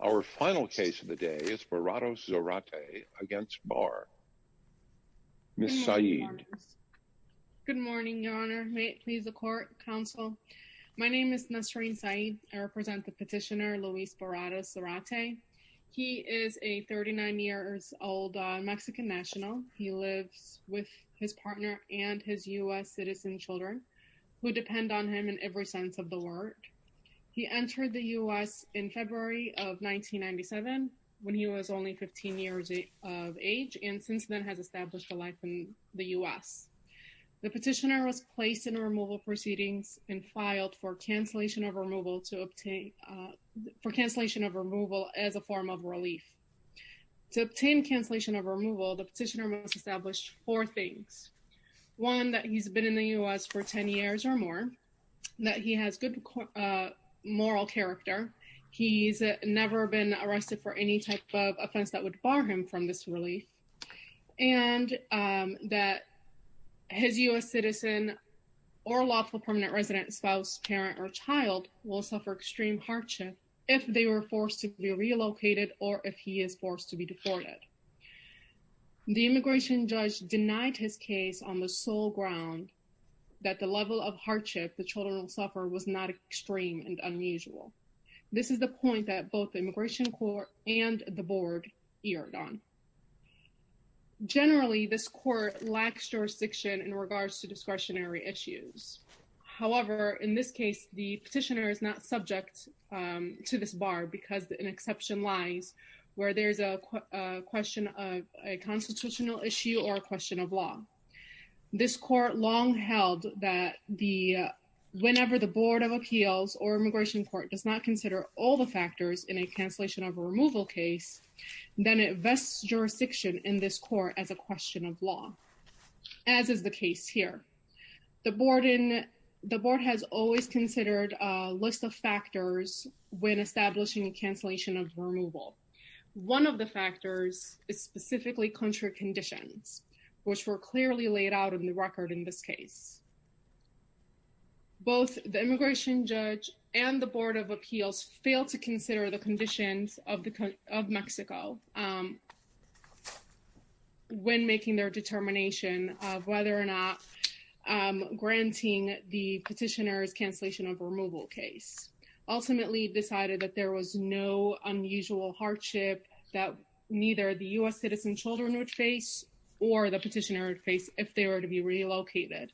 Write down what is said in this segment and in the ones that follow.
Our final case of the day is Barrados-Zarate against Barr. Ms. Saeed. Good morning Your Honor. May it please the Court, Counsel. My name is Nasreen Saeed. I represent the petitioner Luis Barrados-Zarate. He is a 39 years old Mexican national. He lives with his partner and his US citizen children who depend on him in every sense of the word. He entered the US in February of 1997 when he was only 15 years of age and since then has established a life in the US. The petitioner was placed in removal proceedings and filed for cancellation of removal to obtain, for cancellation of removal as a form of relief. To obtain cancellation of removal, the petitioner must establish four things. One, that he's been in the US for 10 years or more. That he has good moral character. He's never been arrested for any type of offense that would bar him from this relief. And that his US citizen or lawful permanent resident, spouse, parent, or child will suffer extreme hardship if they were forced to be relocated or if he is forced to be deported. The immigration judge denied his case on the whole ground that the level of hardship the children will suffer was not extreme and unusual. This is the point that both the Immigration Court and the board erred on. Generally, this court lacks jurisdiction in regards to discretionary issues. However, in this case, the petitioner is not subject to this bar because an exception lies where there's a question of a constitutional issue or question of law. This court long held that whenever the Board of Appeals or Immigration Court does not consider all the factors in a cancellation of removal case, then it vests jurisdiction in this court as a question of law, as is the case here. The board has always considered a list of factors when establishing a cancellation of removal. One of the factors is specifically country conditions, which were clearly laid out in the record in this case. Both the immigration judge and the Board of Appeals failed to consider the conditions of Mexico when making their determination of whether or not granting the petitioner's cancellation of removal case. Ultimately, decided that there was no unusual hardship that neither the U.S. citizen children would face or the petitioner would face if they were to be relocated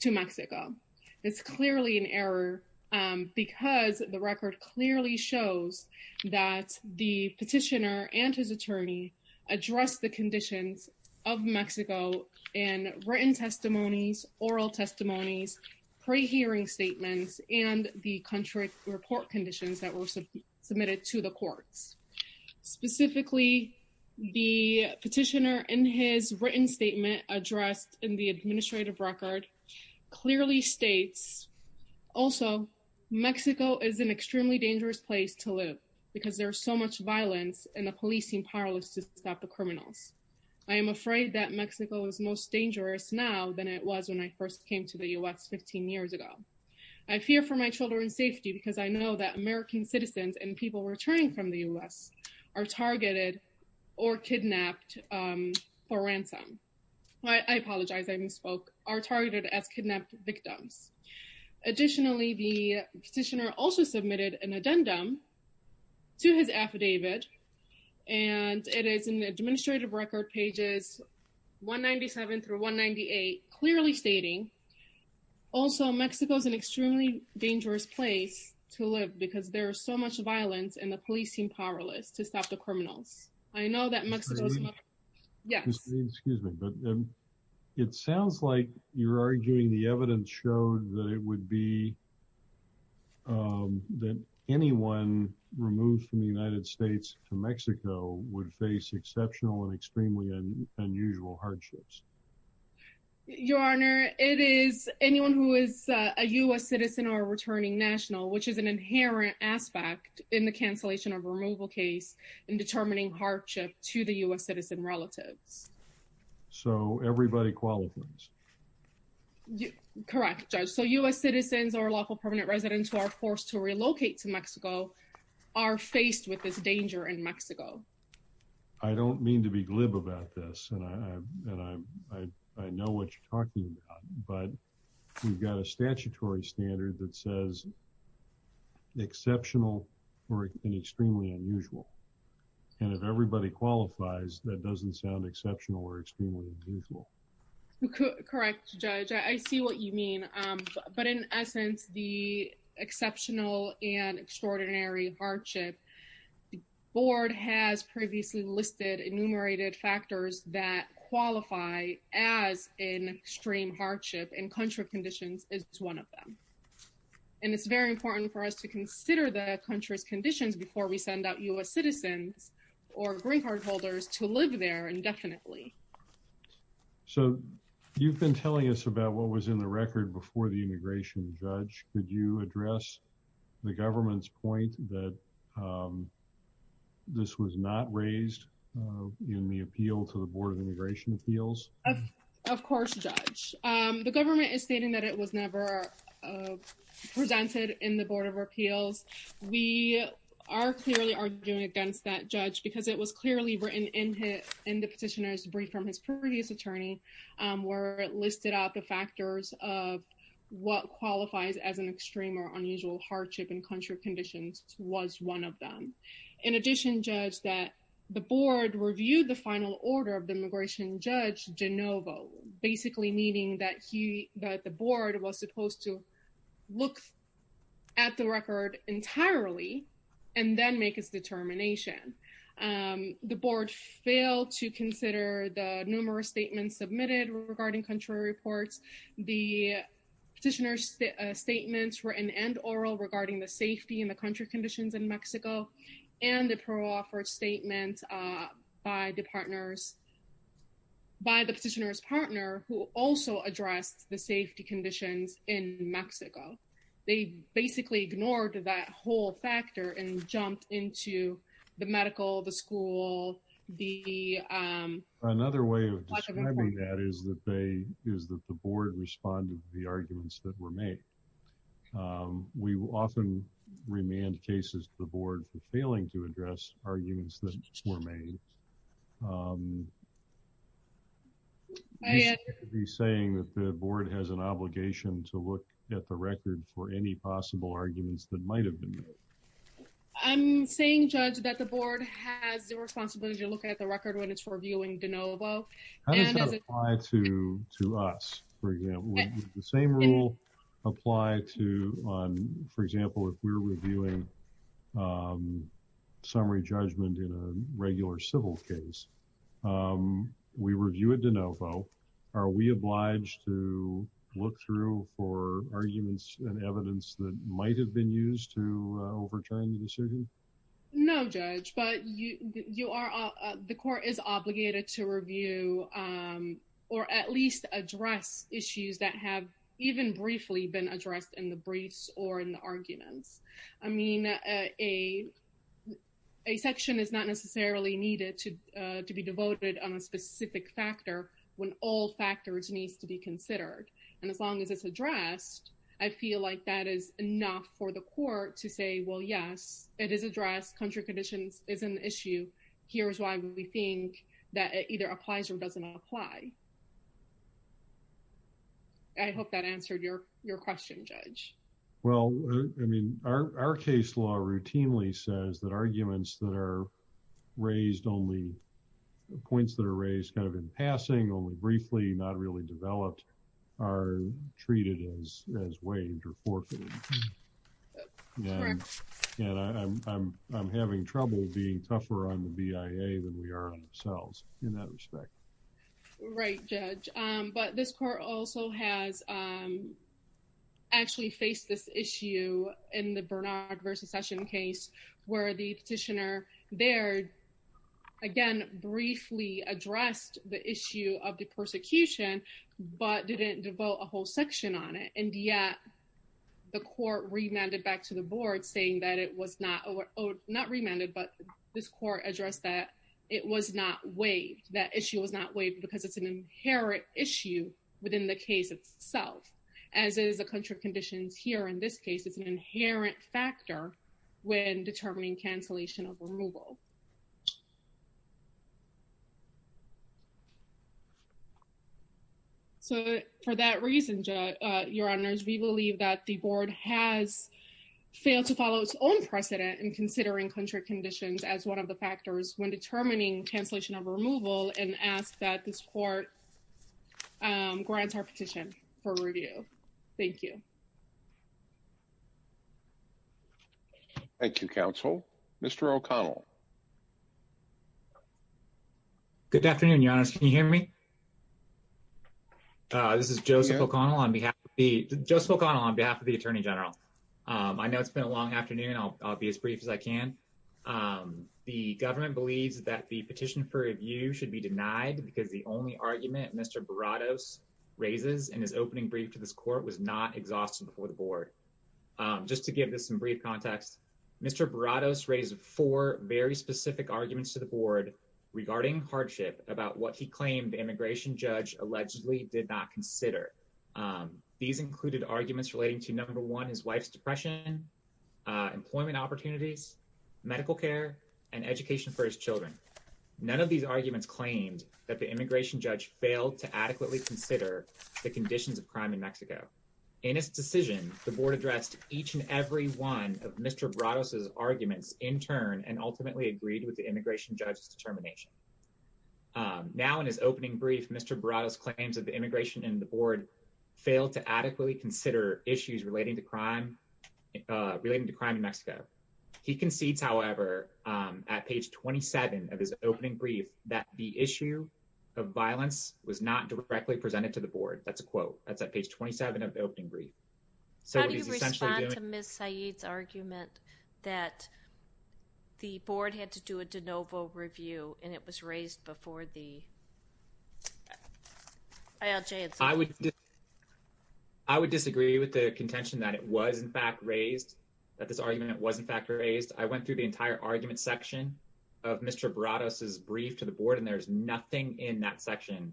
to Mexico. It's clearly an error because the record clearly shows that the petitioner and his attorney addressed the conditions of Mexico in written testimonies, oral testimonies, pre-hearing statements, and the country report conditions that were submitted to the courts. Specifically, the petitioner in his written statement addressed in the administrative record clearly states, also, Mexico is an extremely dangerous place to live because there's so much violence and the police seem powerless to stop the criminals. I am afraid that Mexico is most dangerous now than it was when I first came to the U.S. 15 years ago. I fear for my children's safety because I know that American citizens and people returning from the U.S. are targeted or kidnapped for ransom. I apologize, I misspoke, are targeted as kidnapped victims. Additionally, the petitioner also submitted an addendum to his affidavit and it is in the administrative record pages 197 through 198, clearly stating, also, Mexico is an extremely dangerous place to live because there is so much violence and the police seem powerless to stop the criminals. I know that Mexico's... Excuse me, but it sounds like you're arguing the evidence showed that it would be, that anyone removed from the United States to Mexico would face exceptional and extremely unusual hardships. Your Honor, it is anyone who is a U.S. citizen or returning national, which is an inherent aspect in the cancellation of removal case in determining hardship to the U.S. citizen relatives. So, everybody qualifies? Correct, Judge. So, U.S. citizens or local permanent residents who are forced to relocate to Mexico are faced with this I don't mean to be glib about this and I know what you're talking about, but we've got a statutory standard that says exceptional or extremely unusual and if everybody qualifies, that doesn't sound exceptional or extremely unusual. Correct, Judge. I see what you mean, but in essence, the exceptional and extraordinary hardship the board has previously listed enumerated factors that qualify as an extreme hardship and country conditions is one of them. And it's very important for us to consider the country's conditions before we send out U.S. citizens or green card holders to live there indefinitely. So, you've been telling us about what was in the record before the immigration, Judge. Could you say that this was not raised in the appeal to the Board of Immigration Appeals? Of course, Judge. The government is stating that it was never presented in the Board of Appeals. We are clearly arguing against that, Judge, because it was clearly written in the petitioner's brief from his previous attorney where it listed out the factors of what qualifies as an extreme or in addition, Judge, that the board reviewed the final order of the immigration, Judge Genovo, basically meaning that he, that the board was supposed to look at the record entirely and then make his determination. The board failed to consider the numerous statements submitted regarding country reports. The petitioner's statements were in end oral regarding the safety and the country conditions in Mexico and the pro-offer statement by the partners, by the petitioner's partner who also addressed the safety conditions in Mexico. They basically ignored that whole factor and jumped into the medical, the school, the... Another way of describing that is that they, is that the board responded to the arguments that were made. We will often remand cases to the board for failing to address arguments that were made. Are you saying that the board has an obligation to look at the record for any possible arguments that might have been made? I'm saying, Judge, that the board has the responsibility to look at the record when it's reviewing Genovo. How does that apply to us, for example? Would the same rule apply to, for example, if we're reviewing summary judgment in a regular civil case? We review it Genovo. Are we obliged to look through for arguments and evidence that might have been used to overturn the decision? No, Judge, but you are, the court is obligated to review or at least address issues that have even briefly been addressed in the briefs or in the arguments. I mean, a section is not necessarily needed to be devoted on a specific factor when all factors needs to be considered. And as long as it's addressed, I feel like that is enough for the court to say, well, yes, it is addressed. Country conditions is an issue. Here's why we think that it either applies or doesn't apply. I hope that answered your question, Judge. Well, I mean, our case law routinely says that arguments that are raised only, points that are raised kind of in passing, only briefly, not really developed, are treated as waived or forfeited. And I'm having trouble being tougher on the BIA than we are on ourselves in that respect. Right, Judge, but this court also has actually faced this issue in the Bernard versus Session case where the petitioner there, again, briefly addressed the issue of the persecution but didn't devote a whole section on it. And yet, the court remanded back to the board saying that it was not, not remanded, but this court addressed that it was not waived. That issue was not waived because it's an inherent issue within the case itself, as is the country conditions here. In this case, it's an inherent factor when determining cancellation of removal. So, for that reason, Judge, Your Honors, we believe that the board has failed to follow its own precedent in considering country conditions as one of the factors when determining cancellation of removal and ask that this court grant our petition for review. Thank you. Thank you, Counsel. Mr. O'Connell. Good afternoon, Your Honors. Can you hear me? This is Joseph O'Connell on behalf of the Attorney General. I know it's been a long afternoon. I'll be as brief as I can. The government believes that the petition for review should be denied because the only argument Mr. Baratos raises in his opening brief to this court was not exhausted before the board. Just to give this some brief context, Mr. Baratos raised four very specific arguments to the board regarding hardship about what he claimed the immigration judge allegedly did not consider. These included arguments relating to, number one, his wife's depression, employment opportunities, medical care, and education for his children. None of these arguments claimed that the immigration judge failed to adequately consider the conditions of crime in Mexico. In his decision, the board addressed each and every one of Mr. Baratos's arguments in turn and ultimately agreed with the immigration judge's determination. Now in his opening brief, Mr. Baratos claims of the immigration and the board failed to adequately consider issues relating to crime relating to crime in Mexico. He concedes, however, at page 27 of his opening brief, that the issue of violence was not directly presented to the board. That's a quote. That's at page 27 of the opening brief. How do you respond to Ms. Saeed's argument that the board had to do a de novo review and it was raised before the ALJ? I would disagree with the contention that it was in fact raised, that this argument was in fact raised. I went through the entire argument section of Mr. Baratos's brief to the board and there's nothing in that section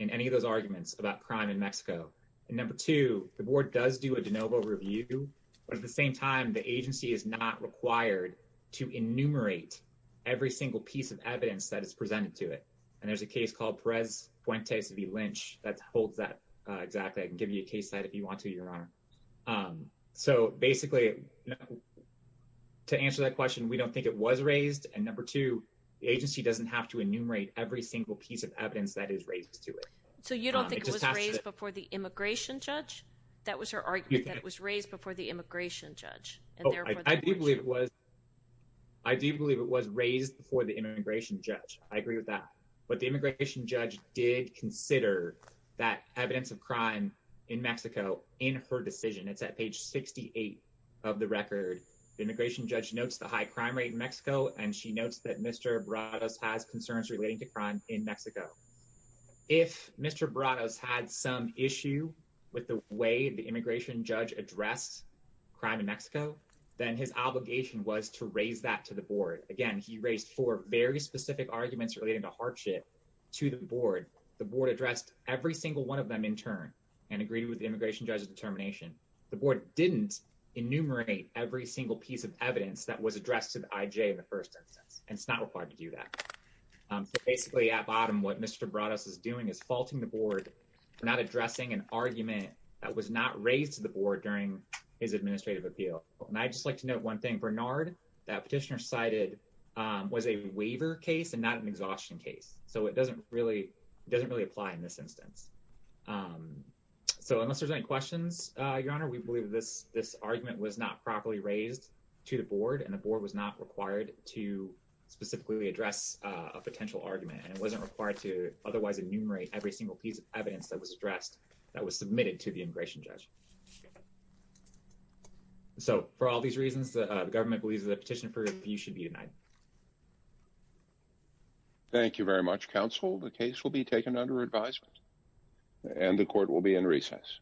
in any of those arguments about crime in Mexico. And number two, the board does do a de novo review, but at the same time the agency is not required to enumerate every single piece of evidence that is presented to it. And there's a case called Perez Fuentes v. Lynch that holds that exactly. I can give you a case that if you want to, Your Honor. So basically, to answer that question, we don't think it was raised. And number two, the agency doesn't have to enumerate every single piece of evidence that is raised to it. So you don't think it was raised before the immigration judge? That was her argument, that it was raised before the immigration judge. I do believe it was raised before the immigration judge. I agree with that. But the immigration judge did consider that evidence of crime in Mexico in her decision. It's at page 68 of the record. The immigration judge notes the high crime rate in Mexico, and she notes that Mr. Baratos has concerns relating to crime in Mexico. If Mr. Baratos had some issue with the way the immigration judge addressed crime in Mexico, then his obligation was to raise that to the board. The board addressed every single one of them in turn and agreed with the immigration judge's determination. The board didn't enumerate every single piece of evidence that was addressed to the IJ in the first instance, and it's not required to do that. So basically, at bottom, what Mr. Baratos is doing is faulting the board for not addressing an argument that was not raised to the board during his administrative appeal. And I'd just like to note one thing, Bernard, that petitioner cited was a waiver case and not an exhaustion case. So it doesn't really doesn't really apply in this instance. Um, so unless there's any questions, your honor, we believe this this argument was not properly raised to the board, and the board was not required to specifically address a potential argument. It wasn't required to otherwise enumerate every single piece of evidence that was addressed that was submitted to the believes that petition for you should be tonight. Thank you very much. Council. The case will be taken under advisement, and the court will be in recess.